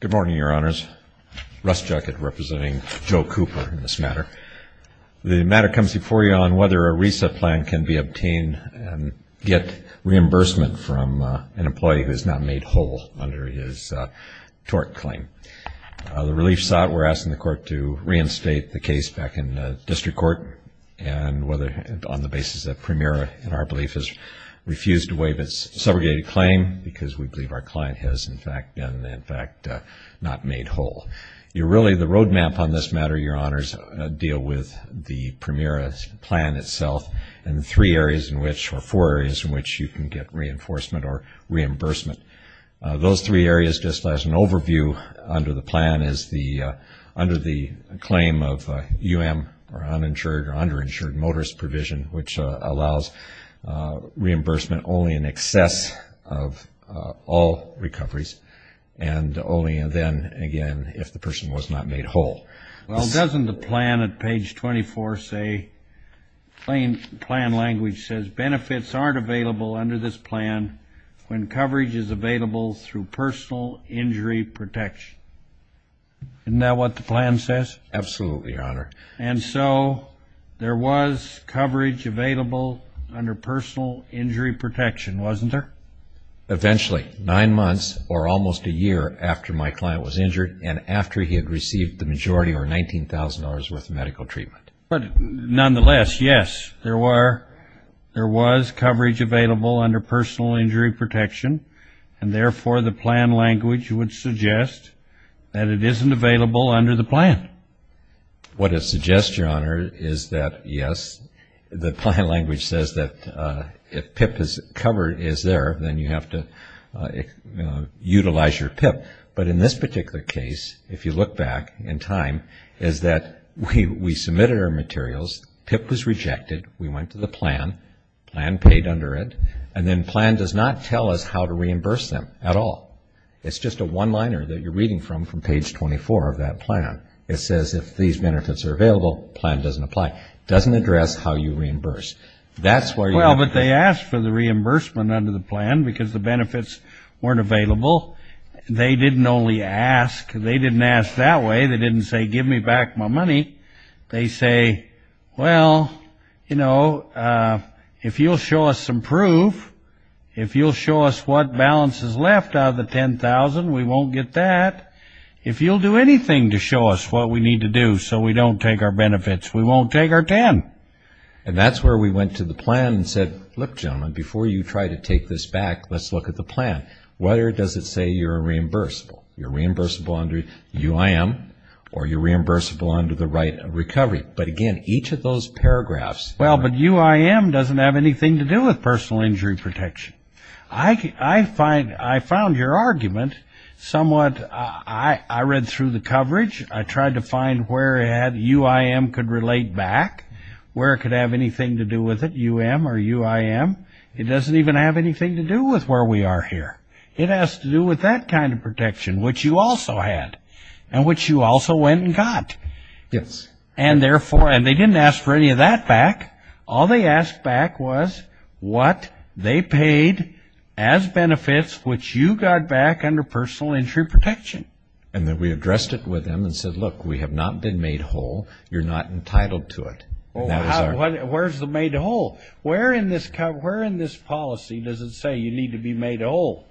Good morning, Your Honors. Russ Juckett representing Joe Cooper in this matter. The matter comes before you on whether a reset plan can be obtained and get reimbursement from an employee who has not made whole under his tort claim. The relief sought, we're asking the court to reinstate the case back in the District Court and whether on the basis that Premera, in our belief, has refused to waive its segregated claim because we believe our client has, in fact, not made whole. The roadmap on this matter, Your Honors, deal with the Premera plan itself and the four areas in which you can get reinforcement or reimbursement. Those three areas, just as an overview under the plan, is under the claim of U.M. or uninsured or underinsured motorist provision which allows reimbursement only in excess of all recoveries and only then, again, if the person was not made whole. Well, doesn't the plan at page 24 say, plain plan language says, benefits aren't available under this plan when coverage is available through personal injury protection? Isn't that what the plan says? Absolutely, Your Honor. And so there was coverage available under personal injury protection, wasn't there? Eventually, nine months or almost a year after my client was injured and after he had received the majority or $19,000 worth of medical treatment. But nonetheless, yes, there was coverage available under personal injury protection and therefore the plan language would suggest that it isn't available under the plan. What it suggests, Your Honor, is that yes, the plan language says that if PIP is covered, is there, then you have to utilize your PIP. But in this particular case, if you look back in time, is that we submitted our materials, PIP was rejected, we went to the plan, plan paid under it, and then plan does not tell us how to reimburse them at all. It's just a one-liner that you're reading from from page 24 of that plan. It says if these benefits are available, plan doesn't apply. It doesn't address how you reimburse. Well, but they asked for the reimbursement under the plan because the benefits weren't available. They didn't only ask. They didn't ask that way. They didn't say, give me back my money. They say, well, you know, if you'll show us some proof, if you'll show us what balance is left out of the $10,000, we won't get that. If you'll do anything to show us what we need to do so we don't take our benefits, we won't take our 10. And that's where we went to the plan and said, look, gentlemen, before you try to take this back, let's look at the plan. Where does it say you're reimbursable? You're reimbursable under UIM or you're reimbursable under the right of recovery. But again, each of those paragraphs... Well, but UIM doesn't have anything to do with personal injury protection. I found your argument somewhat... I read through the coverage. I tried to find where UIM could relate back, where it could have anything to do with it, UIM or UIM. It doesn't even have anything to do with where we are here. It has to do with that kind of protection, which you also had and which you also went and got. Yes. And therefore... And they didn't ask for any of that back. All they asked back was what they paid as benefits, which you got back under personal injury protection. And then we addressed it with them and said, look, we have not been made whole. You're not entitled to it. Where's the made whole? Where in this policy does it say you need to be made whole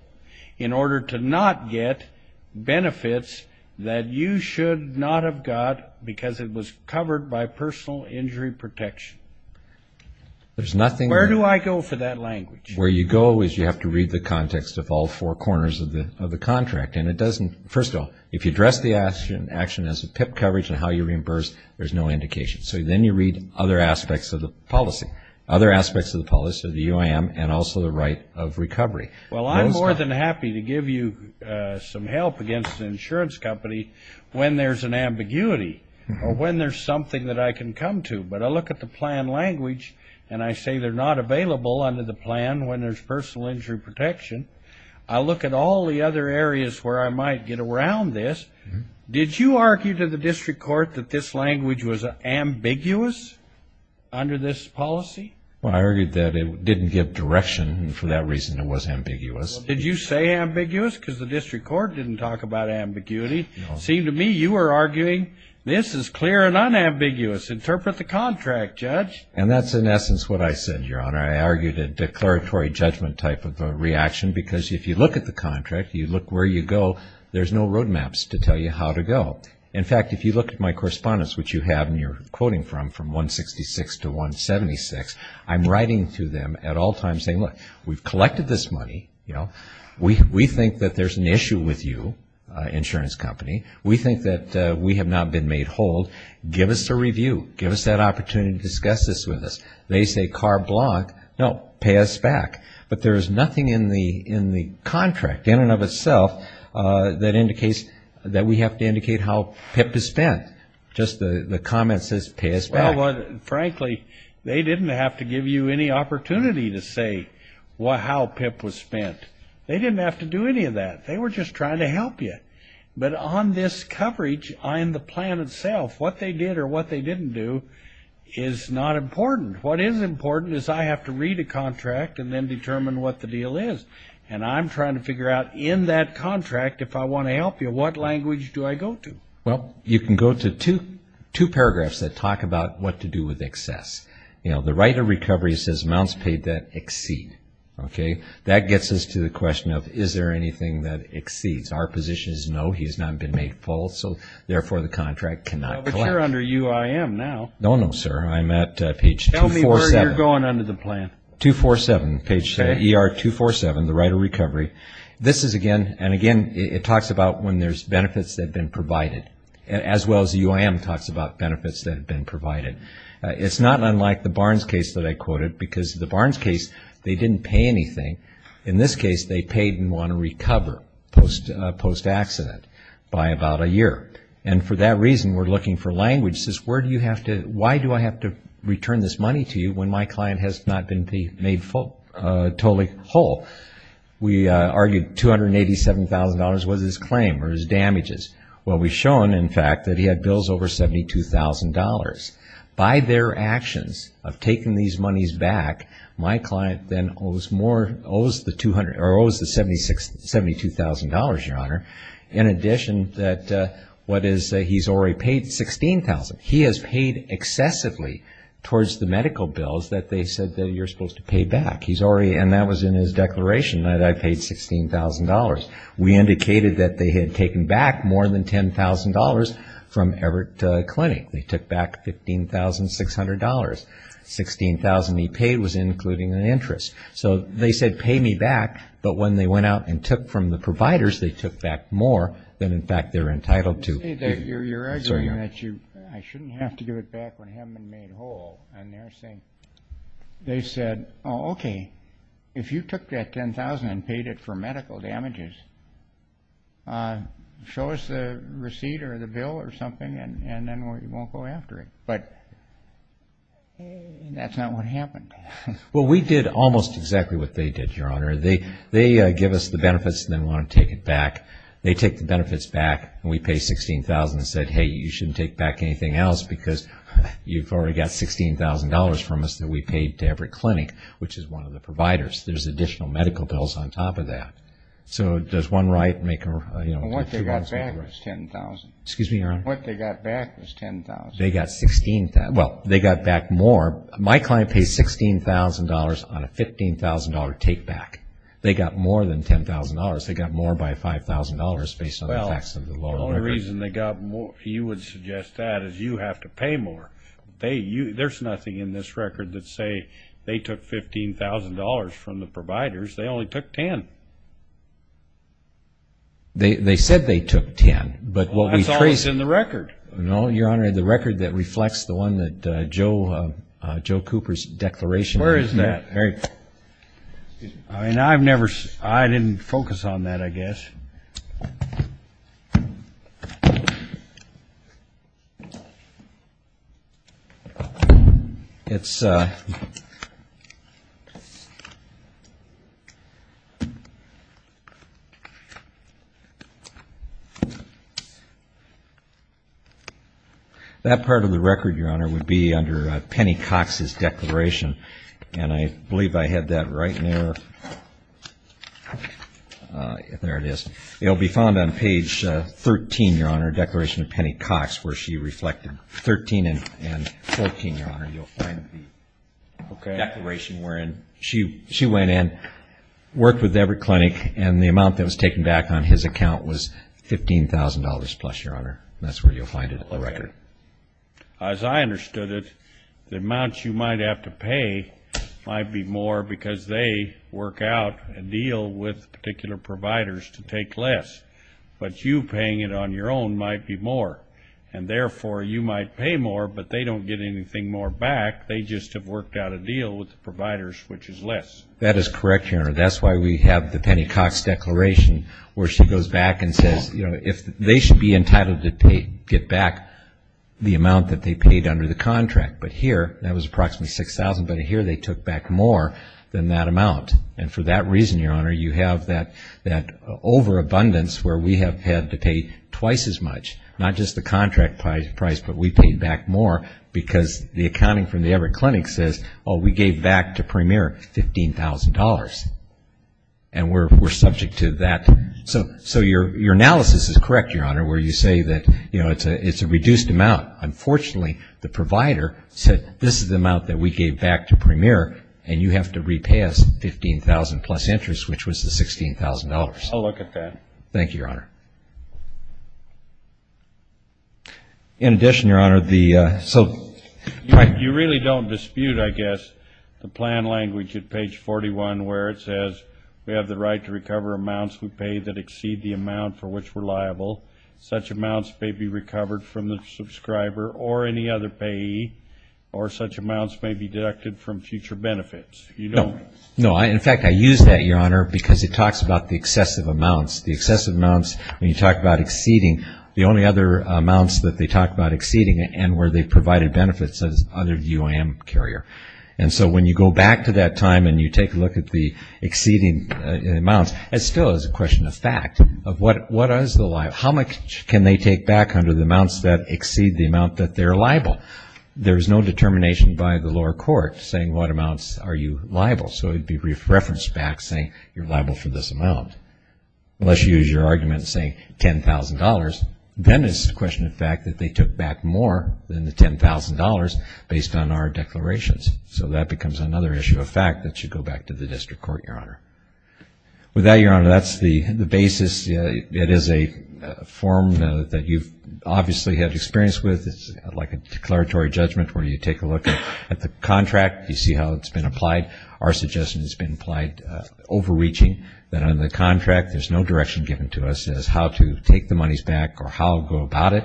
in order to not get benefits that you should not have got because it was covered by personal injury protection? There's nothing... Where do I go for that language? Where you go is you have to read the context of all four corners of the contract. And it doesn't... First of all, if you address the action as a PIP coverage and how you reimburse, there's no indication. So then you read other aspects of the policy, other aspects of the policy of the UIM and also the right of recovery. Well, I'm more than happy to give you some help against the insurance company when there's an ambiguity or when there's something that I can come to. But I look at the plan language and I say they're not available under the plan when there's personal injury protection. I look at all the other areas where I might get around this. Did you argue to the district court that this language was ambiguous under this policy? Well, I argued that it didn't give direction and for that reason it was ambiguous. Did you say ambiguous because the district court didn't talk about ambiguity? No. It seemed to me you were arguing this is clear and unambiguous. Interpret the contract, Judge. And that's in essence what I said, Your Honor. I argued a declaratory judgment type of a reaction because if you look at the contract, you look where you go, there's no roadmaps to tell you how to go. In fact, if you look at my correspondence, which you have and you're quoting from, from 166 to 176, I'm writing to them at all times saying, look, we've collected this money. We think that there's an issue with you, insurance company. We think that we have not been made whole. Give us a review. Give us that opportunity to discuss this with us. They say car block. No, pay us back. But there's nothing in the contract in and of itself that indicates that we have to indicate how PIP is spent. Just the comment says pay us back. Well, frankly, they didn't have to give you any opportunity to say how PIP was spent. They didn't have to do any of that. They were just trying to help you. But on this coverage on the plan itself, what they did or what they didn't do is not important. What is important is I have to read a contract and then determine what the deal is. And I'm trying to figure out in that contract, if I want to help you, what language do I go to? Well, you can go to two paragraphs that talk about what to do with excess. You know, the right of recovery says amounts paid that exceed. Okay? That gets us to the question of is there anything that exceeds. Our position is no, he's not been made full, so therefore the contract cannot collect. Well, but you're under UIM now. No, no, sir. I'm at page 247. Tell me where you're going under the plan. 247, page ER247, the right of recovery. This is, again, and again, it talks about when there's benefits that have been provided, as well as UIM talks about benefits that have been provided. It's not unlike the Barnes case that I quoted, because the Barnes case, they didn't pay anything. In this case, they paid and want to recover post-accident by about a year. And for that reason, we're looking for language that says where do you have to, why do I have to return this money to you when my client has not been made totally whole? We argued $287,000 was his claim or his damages. Well, we've shown, in fact, that he had bills over $72,000. By their actions of taking these monies back, my client then owes the $72,000, Your Honor, in addition that what is he's already paid $16,000. He has paid excessively towards the medical bills that they said that you're supposed to pay back. And that was in his declaration, that I paid $16,000. We indicated that they had taken back more than $10,000 from Everett Clinic. They took back $15,600. $16,000 he paid was including an interest. So they said pay me back, but when they went out and took from the providers, they took back more than, in fact, they're entitled to. You're arguing that I shouldn't have to give it back when I haven't been made whole. And they said, oh, okay, if you took that $10,000 and paid it for medical damages, show us the receipt or the bill or something, and then we won't go after it. But that's not what happened. Well, we did almost exactly what they did, Your Honor. They give us the benefits and then want to take it back. They take the benefits back, and we pay $16,000 and said, hey, you shouldn't take back anything else because you've already got $16,000 from us that we paid to Everett Clinic, which is one of the providers. There's additional medical bills on top of that. So does one right make two rights? What they got back was $10,000. Excuse me, Your Honor? What they got back was $10,000. They got $16,000. Well, they got back more. My client paid $16,000 on a $15,000 take back. They got more than $10,000. They got more by $5,000 based on the facts of the law. The only reason they got more, you would suggest that, is you have to pay more. There's nothing in this record that say they took $15,000 from the providers. They only took $10,000. They said they took $10,000. That's always in the record. No, Your Honor, the record that reflects the one that Joe Cooper's declaration... Where is that? I didn't focus on that, I guess. It's... That part of the record, Your Honor, would be under Penny Cox's declaration, and I believe I had that right there. There it is. It'll be found on page 13, Your Honor, declaration of Penny Cox, where she reflected 13 and 14, Your Honor. You'll find the declaration wherein she went in, worked with every clinic, and the amount that was taken back on his account was $15,000-plus, Your Honor. That's where you'll find it in the record. As I understood it, the amount you might have to pay might be more because they work out a deal with particular providers to take less, but you paying it on your own might be more, and therefore you might pay more, but they don't get anything more back. They just have worked out a deal with the providers, which is less. That is correct, Your Honor. That's why we have the Penny Cox declaration where she goes back and says, you know, they should be entitled to get back the amount that they paid under the contract, but here that was approximately $6,000, but here they took back more than that amount, and for that reason, Your Honor, you have that overabundance where we have had to pay twice as much, not just the contract price, but we paid back more because the accounting from the Everett Clinic says, oh, we gave back to Premier $15,000, and we're subject to that. So your analysis is correct, Your Honor, where you say that, you know, it's a reduced amount. Unfortunately, the provider said this is the amount that we gave back to Premier, and you have to repay us $15,000 plus interest, which was the $16,000. I'll look at that. Thank you, Your Honor. In addition, Your Honor, the so you really don't dispute, I guess, the plan language at page 41 where it says we have the right to recover amounts we pay that exceed the amount for which we're liable. Such amounts may be recovered from the subscriber or any other payee, or such amounts may be deducted from future benefits. No, in fact, I use that, Your Honor, because it talks about the excessive amounts. The excessive amounts, when you talk about exceeding, the only other amounts that they talk about exceeding and where they've provided benefits is under the UAM carrier, and so when you go back to that time and you take a look at the exceeding amounts, it still is a question of fact. How much can they take back under the amounts that exceed the amount that they're liable? There's no determination by the lower court saying what amounts are you liable, so it would be referenced back saying you're liable for this amount. Unless you use your argument saying $10,000, then it's a question of fact that they took back more than the $10,000 based on our declarations, so that becomes another issue of fact that should go back to the district court, Your Honor. With that, Your Honor, that's the basis. It is a form that you've obviously had experience with. It's like a declaratory judgment where you take a look at the contract. You see how it's been applied. Our suggestion has been applied overreaching, that under the contract there's no direction given to us as how to take the monies back or how to go about it.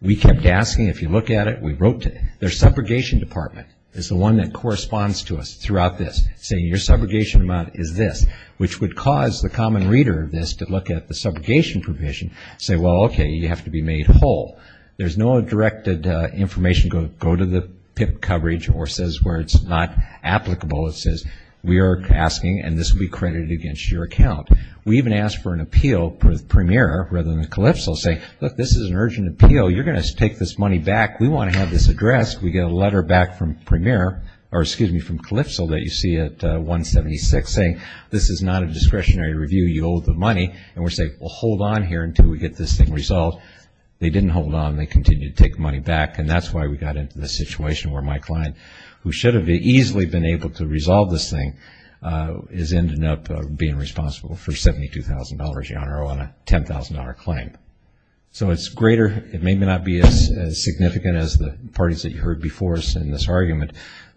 We kept asking. If you look at it, we wrote to their subrogation department. It's the one that corresponds to us throughout this, saying your subrogation amount is this, which would cause the common reader of this to look at the subrogation provision and say, well, okay, you have to be made whole. There's no directed information to go to the PIP coverage or says where it's not applicable. It says we are asking, and this will be credited against your account. We even asked for an appeal with Premier rather than Calypso, saying, look, this is an urgent appeal. You're going to take this money back. We want to have this addressed. We get a letter back from Premier, or excuse me, from Calypso that you see at 176, saying this is not a discretionary review. You owe the money, and we're saying, well, hold on here until we get this thing resolved. They didn't hold on. They continued to take money back, and that's why we got into the situation where my client, who should have easily been able to resolve this thing, is ending up being responsible for $72,000, Your Honor, on a $10,000 claim. So it's greater. It may not be as significant as the parties that you heard before us in this argument,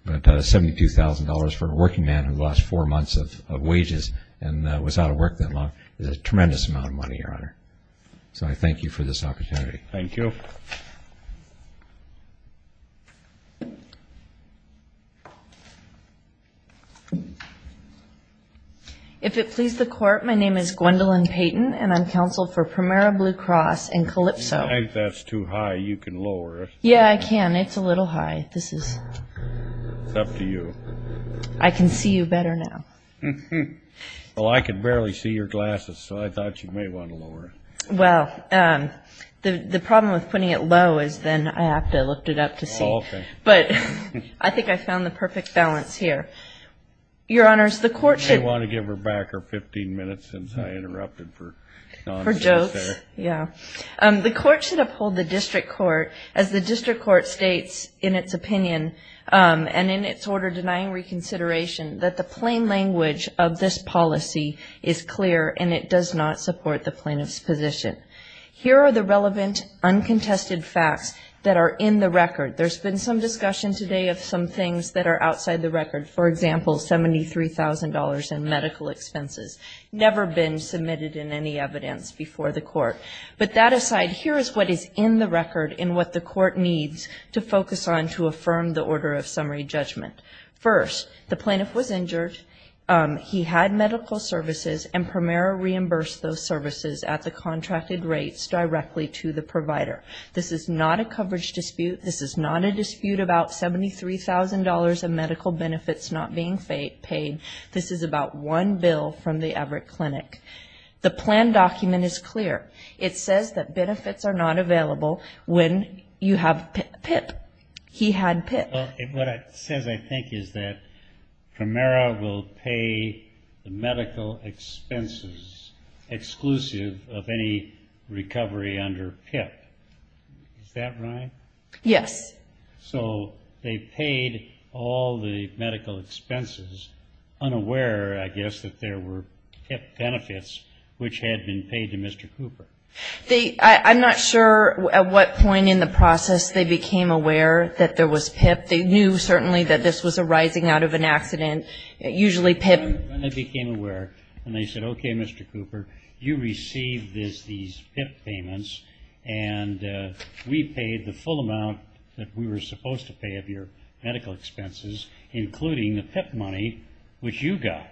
but $72,000 for a working man who lost four months of wages and was out of work that long is a tremendous amount of money, Your Honor. So I thank you for this opportunity. Okay. Thank you. If it please the Court, my name is Gwendolyn Payton, and I'm counsel for Primera Blue Cross and Calypso. If that's too high, you can lower it. Yeah, I can. It's a little high. It's up to you. I can see you better now. Well, I can barely see your glasses, so I thought you may want to lower it. Well, the problem with putting it low is then I have to lift it up to see. Okay. But I think I found the perfect balance here. Your Honors, the Court should uphold the district court, as the district court states in its opinion and in its order denying reconsideration that the plain language of this policy is clear and it does not support the plaintiff's position. Here are the relevant uncontested facts that are in the record. There's been some discussion today of some things that are outside the record, for example, $73,000 in medical expenses, never been submitted in any evidence before the Court. But that aside, here is what is in the record and what the Court needs to focus on to affirm the order of summary judgment. First, the plaintiff was injured. He had medical services, and Primera reimbursed those services at the contracted rates directly to the provider. This is not a coverage dispute. This is not a dispute about $73,000 in medical benefits not being paid. This is about one bill from the Everett Clinic. The plan document is clear. It says that benefits are not available when you have PIP. He had PIP. What it says, I think, is that Primera will pay the medical expenses exclusive of any recovery under PIP. Is that right? Yes. So they paid all the medical expenses unaware, I guess, that there were PIP benefits which had been paid to Mr. Cooper. I'm not sure at what point in the process they became aware that there was PIP. They knew certainly that this was arising out of an accident, usually PIP. When they became aware and they said, okay, Mr. Cooper, you received these PIP payments, and we paid the full amount that we were supposed to pay of your medical expenses, including the PIP money which you got.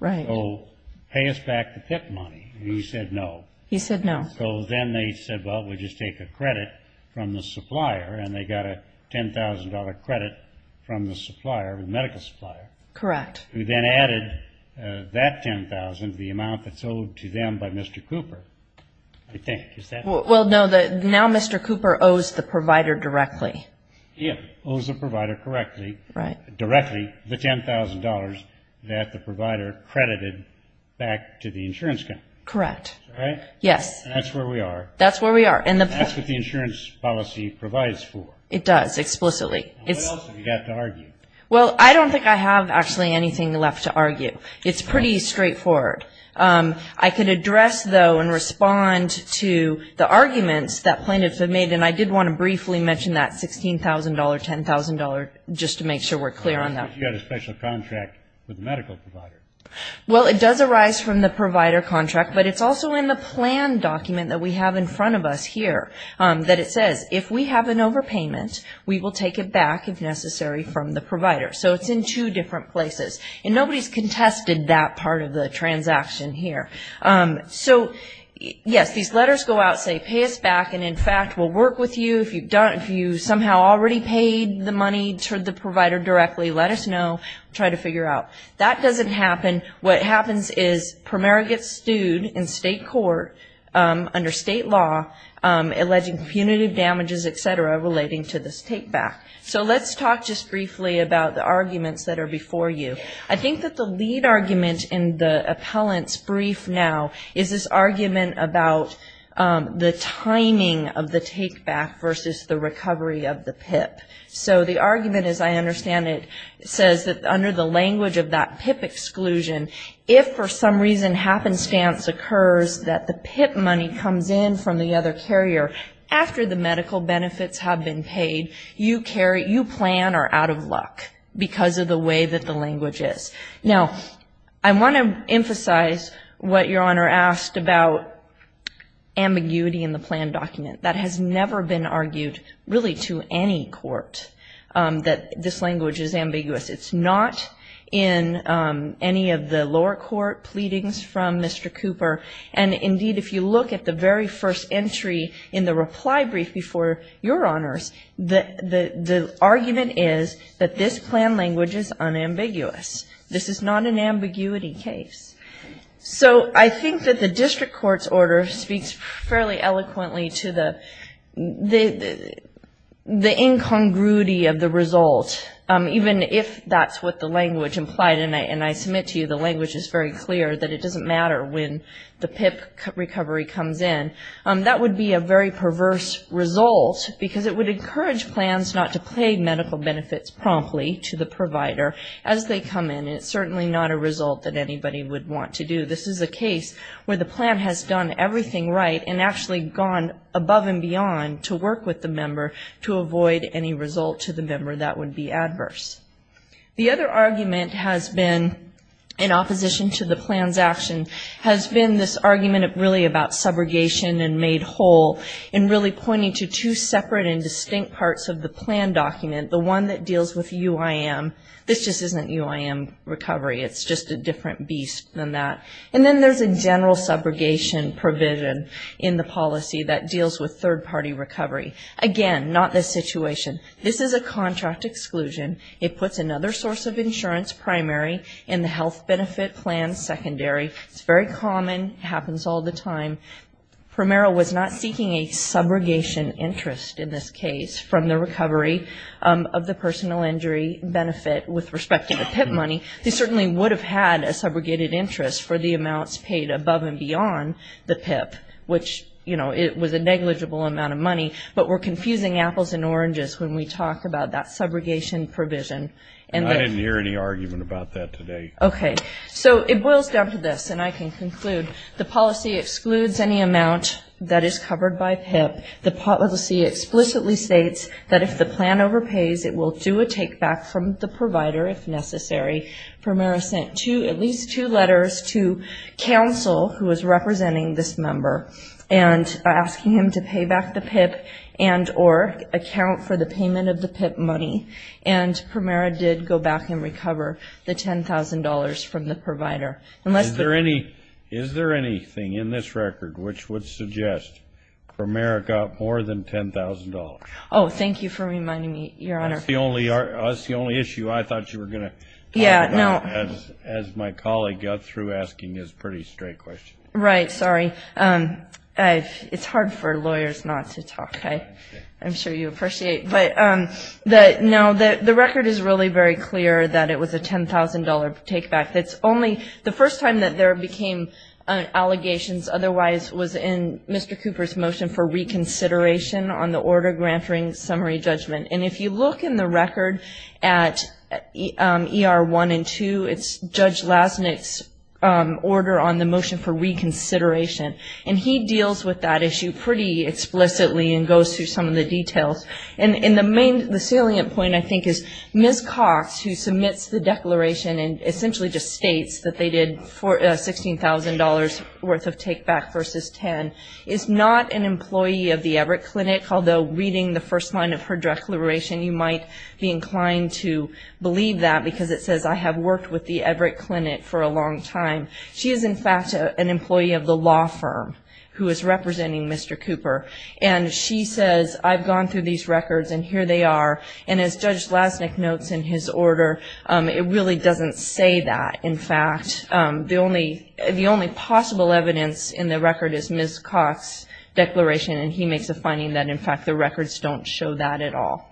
Right. So pay us back the PIP money. And he said no. He said no. So then they said, well, we'll just take a credit from the supplier, and they got a $10,000 credit from the supplier, the medical supplier. Correct. Who then added that $10,000, the amount that's owed to them by Mr. Cooper, I think. Is that right? Well, no, now Mr. Cooper owes the provider directly. He owes the provider directly the $10,000 that the provider credited back to the insurance company. Correct. Is that right? Yes. And that's where we are. That's where we are. And that's what the insurance policy provides for. It does, explicitly. What else have you got to argue? Well, I don't think I have actually anything left to argue. It's pretty straightforward. I can address, though, and respond to the arguments that plaintiffs have made, and I did want to briefly mention that $16,000, $10,000, just to make sure we're clear on that. You've got a special contract with the medical provider. Well, it does arise from the provider contract, but it's also in the plan document that we have in front of us here that it says, if we have an overpayment, we will take it back, if necessary, from the provider. So it's in two different places. And nobody has contested that part of the transaction here. So, yes, these letters go out, say, pay us back, and, in fact, we'll work with you. If you somehow already paid the money to the provider directly, let us know. We'll try to figure out. That doesn't happen. What happens is Primera gets sued in state court under state law, alleging punitive damages, et cetera, relating to this take-back. So let's talk just briefly about the arguments that are before you. I think that the lead argument in the appellant's brief now is this argument about the timing of the take-back versus the recovery of the PIP. So the argument, as I understand it, says that under the language of that PIP exclusion, if for some reason happenstance occurs that the PIP money comes in from the other carrier after the medical benefits have been paid, you plan are out of luck because of the way that the language is. Now, I want to emphasize what Your Honor asked about ambiguity in the plan document. That has never been argued really to any court that this language is ambiguous. It's not in any of the lower court pleadings from Mr. Cooper. And, indeed, if you look at the very first entry in the reply brief before Your Honors, the argument is that this plan language is unambiguous. This is not an ambiguity case. So I think that the district court's order speaks fairly eloquently to the incongruity of the result, even if that's what the language implied, and I submit to you the language is very clear, that it doesn't matter when the PIP recovery comes in. That would be a very perverse result because it would encourage plans not to pay medical benefits promptly to the provider as they come in, and it's certainly not a result that anybody would want to do. This is a case where the plan has done everything right and actually gone above and beyond to work with the member to avoid any result to the member that would be adverse. The other argument has been, in opposition to the plan's action, has been this argument really about subrogation and made whole, and really pointing to two separate and distinct parts of the plan document, the one that deals with UIM. This just isn't UIM recovery. It's just a different beast than that. And then there's a general subrogation provision in the policy that deals with third-party recovery. Again, not this situation. This is a contract exclusion. It puts another source of insurance, primary, in the health benefit plan, secondary. It's very common. It happens all the time. Primero was not seeking a subrogation interest in this case from the recovery of the personal injury benefit with respect to the PIP money. They certainly would have had a subrogated interest for the amounts paid above and beyond the PIP, which, you know, it was a negligible amount of money. But we're confusing apples and oranges when we talk about that subrogation provision. And I didn't hear any argument about that today. Okay. So it boils down to this, and I can conclude. The policy excludes any amount that is covered by PIP. The policy explicitly states that if the plan overpays, it will do a take-back from the provider if necessary. Primero sent at least two letters to counsel, who was representing this member, and asking him to pay back the PIP and or account for the payment of the PIP money. And Primero did go back and recover the $10,000 from the provider. Is there anything in this record which would suggest Primero got more than $10,000? Oh, thank you for reminding me, Your Honor. That's the only issue I thought you were going to talk about as my colleague got through asking his pretty straight question. Right. Sorry. It's hard for lawyers not to talk. I'm sure you appreciate. But, no, the record is really very clear that it was a $10,000 take-back. It's only the first time that there became allegations otherwise was in Mr. Cooper's motion for reconsideration on the order granting summary judgment. And if you look in the record at ER 1 and 2, it's Judge Lasnik's order on the motion for reconsideration. And he deals with that issue pretty explicitly and goes through some of the details. And the salient point, I think, is Ms. Cox, who submits the declaration and essentially just states that they did $16,000 worth of take-back versus $10,000, is not an employee of the Everett Clinic, although reading the first line of her declaration, you might be inclined to believe that because it says, I have worked with the Everett Clinic for a long time. She is, in fact, an employee of the law firm who is representing Mr. Cooper. And she says, I've gone through these records and here they are. And as Judge Lasnik notes in his order, it really doesn't say that. In fact, the only possible evidence in the record is Ms. Cox's declaration, and he makes a finding that, in fact, the records don't show that at all.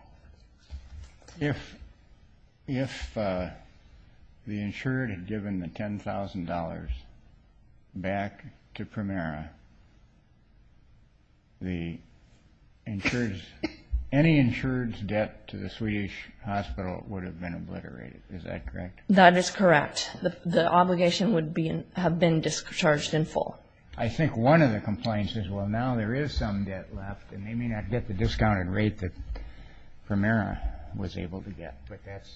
If the insured had given the $10,000 back to Primera, any insured's debt to the Swedish hospital would have been obliterated. Is that correct? That is correct. The obligation would have been discharged in full. I think one of the complaints is, well, now there is some debt left, and they may not get the discounted rate that Primera was able to get. But that's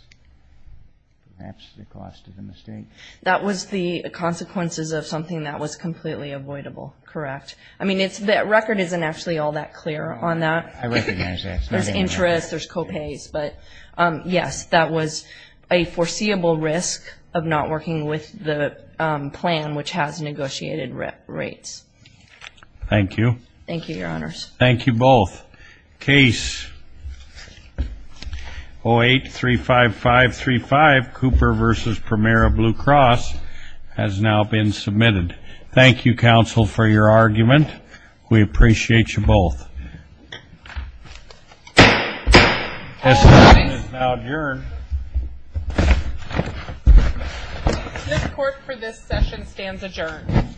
perhaps the cost of the mistake. That was the consequences of something that was completely avoidable, correct? I mean, the record isn't actually all that clear on that. I recognize that. There's interest, there's co-pays. But, yes, that was a foreseeable risk of not working with the plan, which has negotiated rates. Thank you. Thank you, Your Honors. Thank you both. Case 0835535, Cooper v. Primera, Blue Cross, has now been submitted. Thank you, counsel, for your argument. We appreciate you both. This court is now adjourned. This court for this session stands adjourned.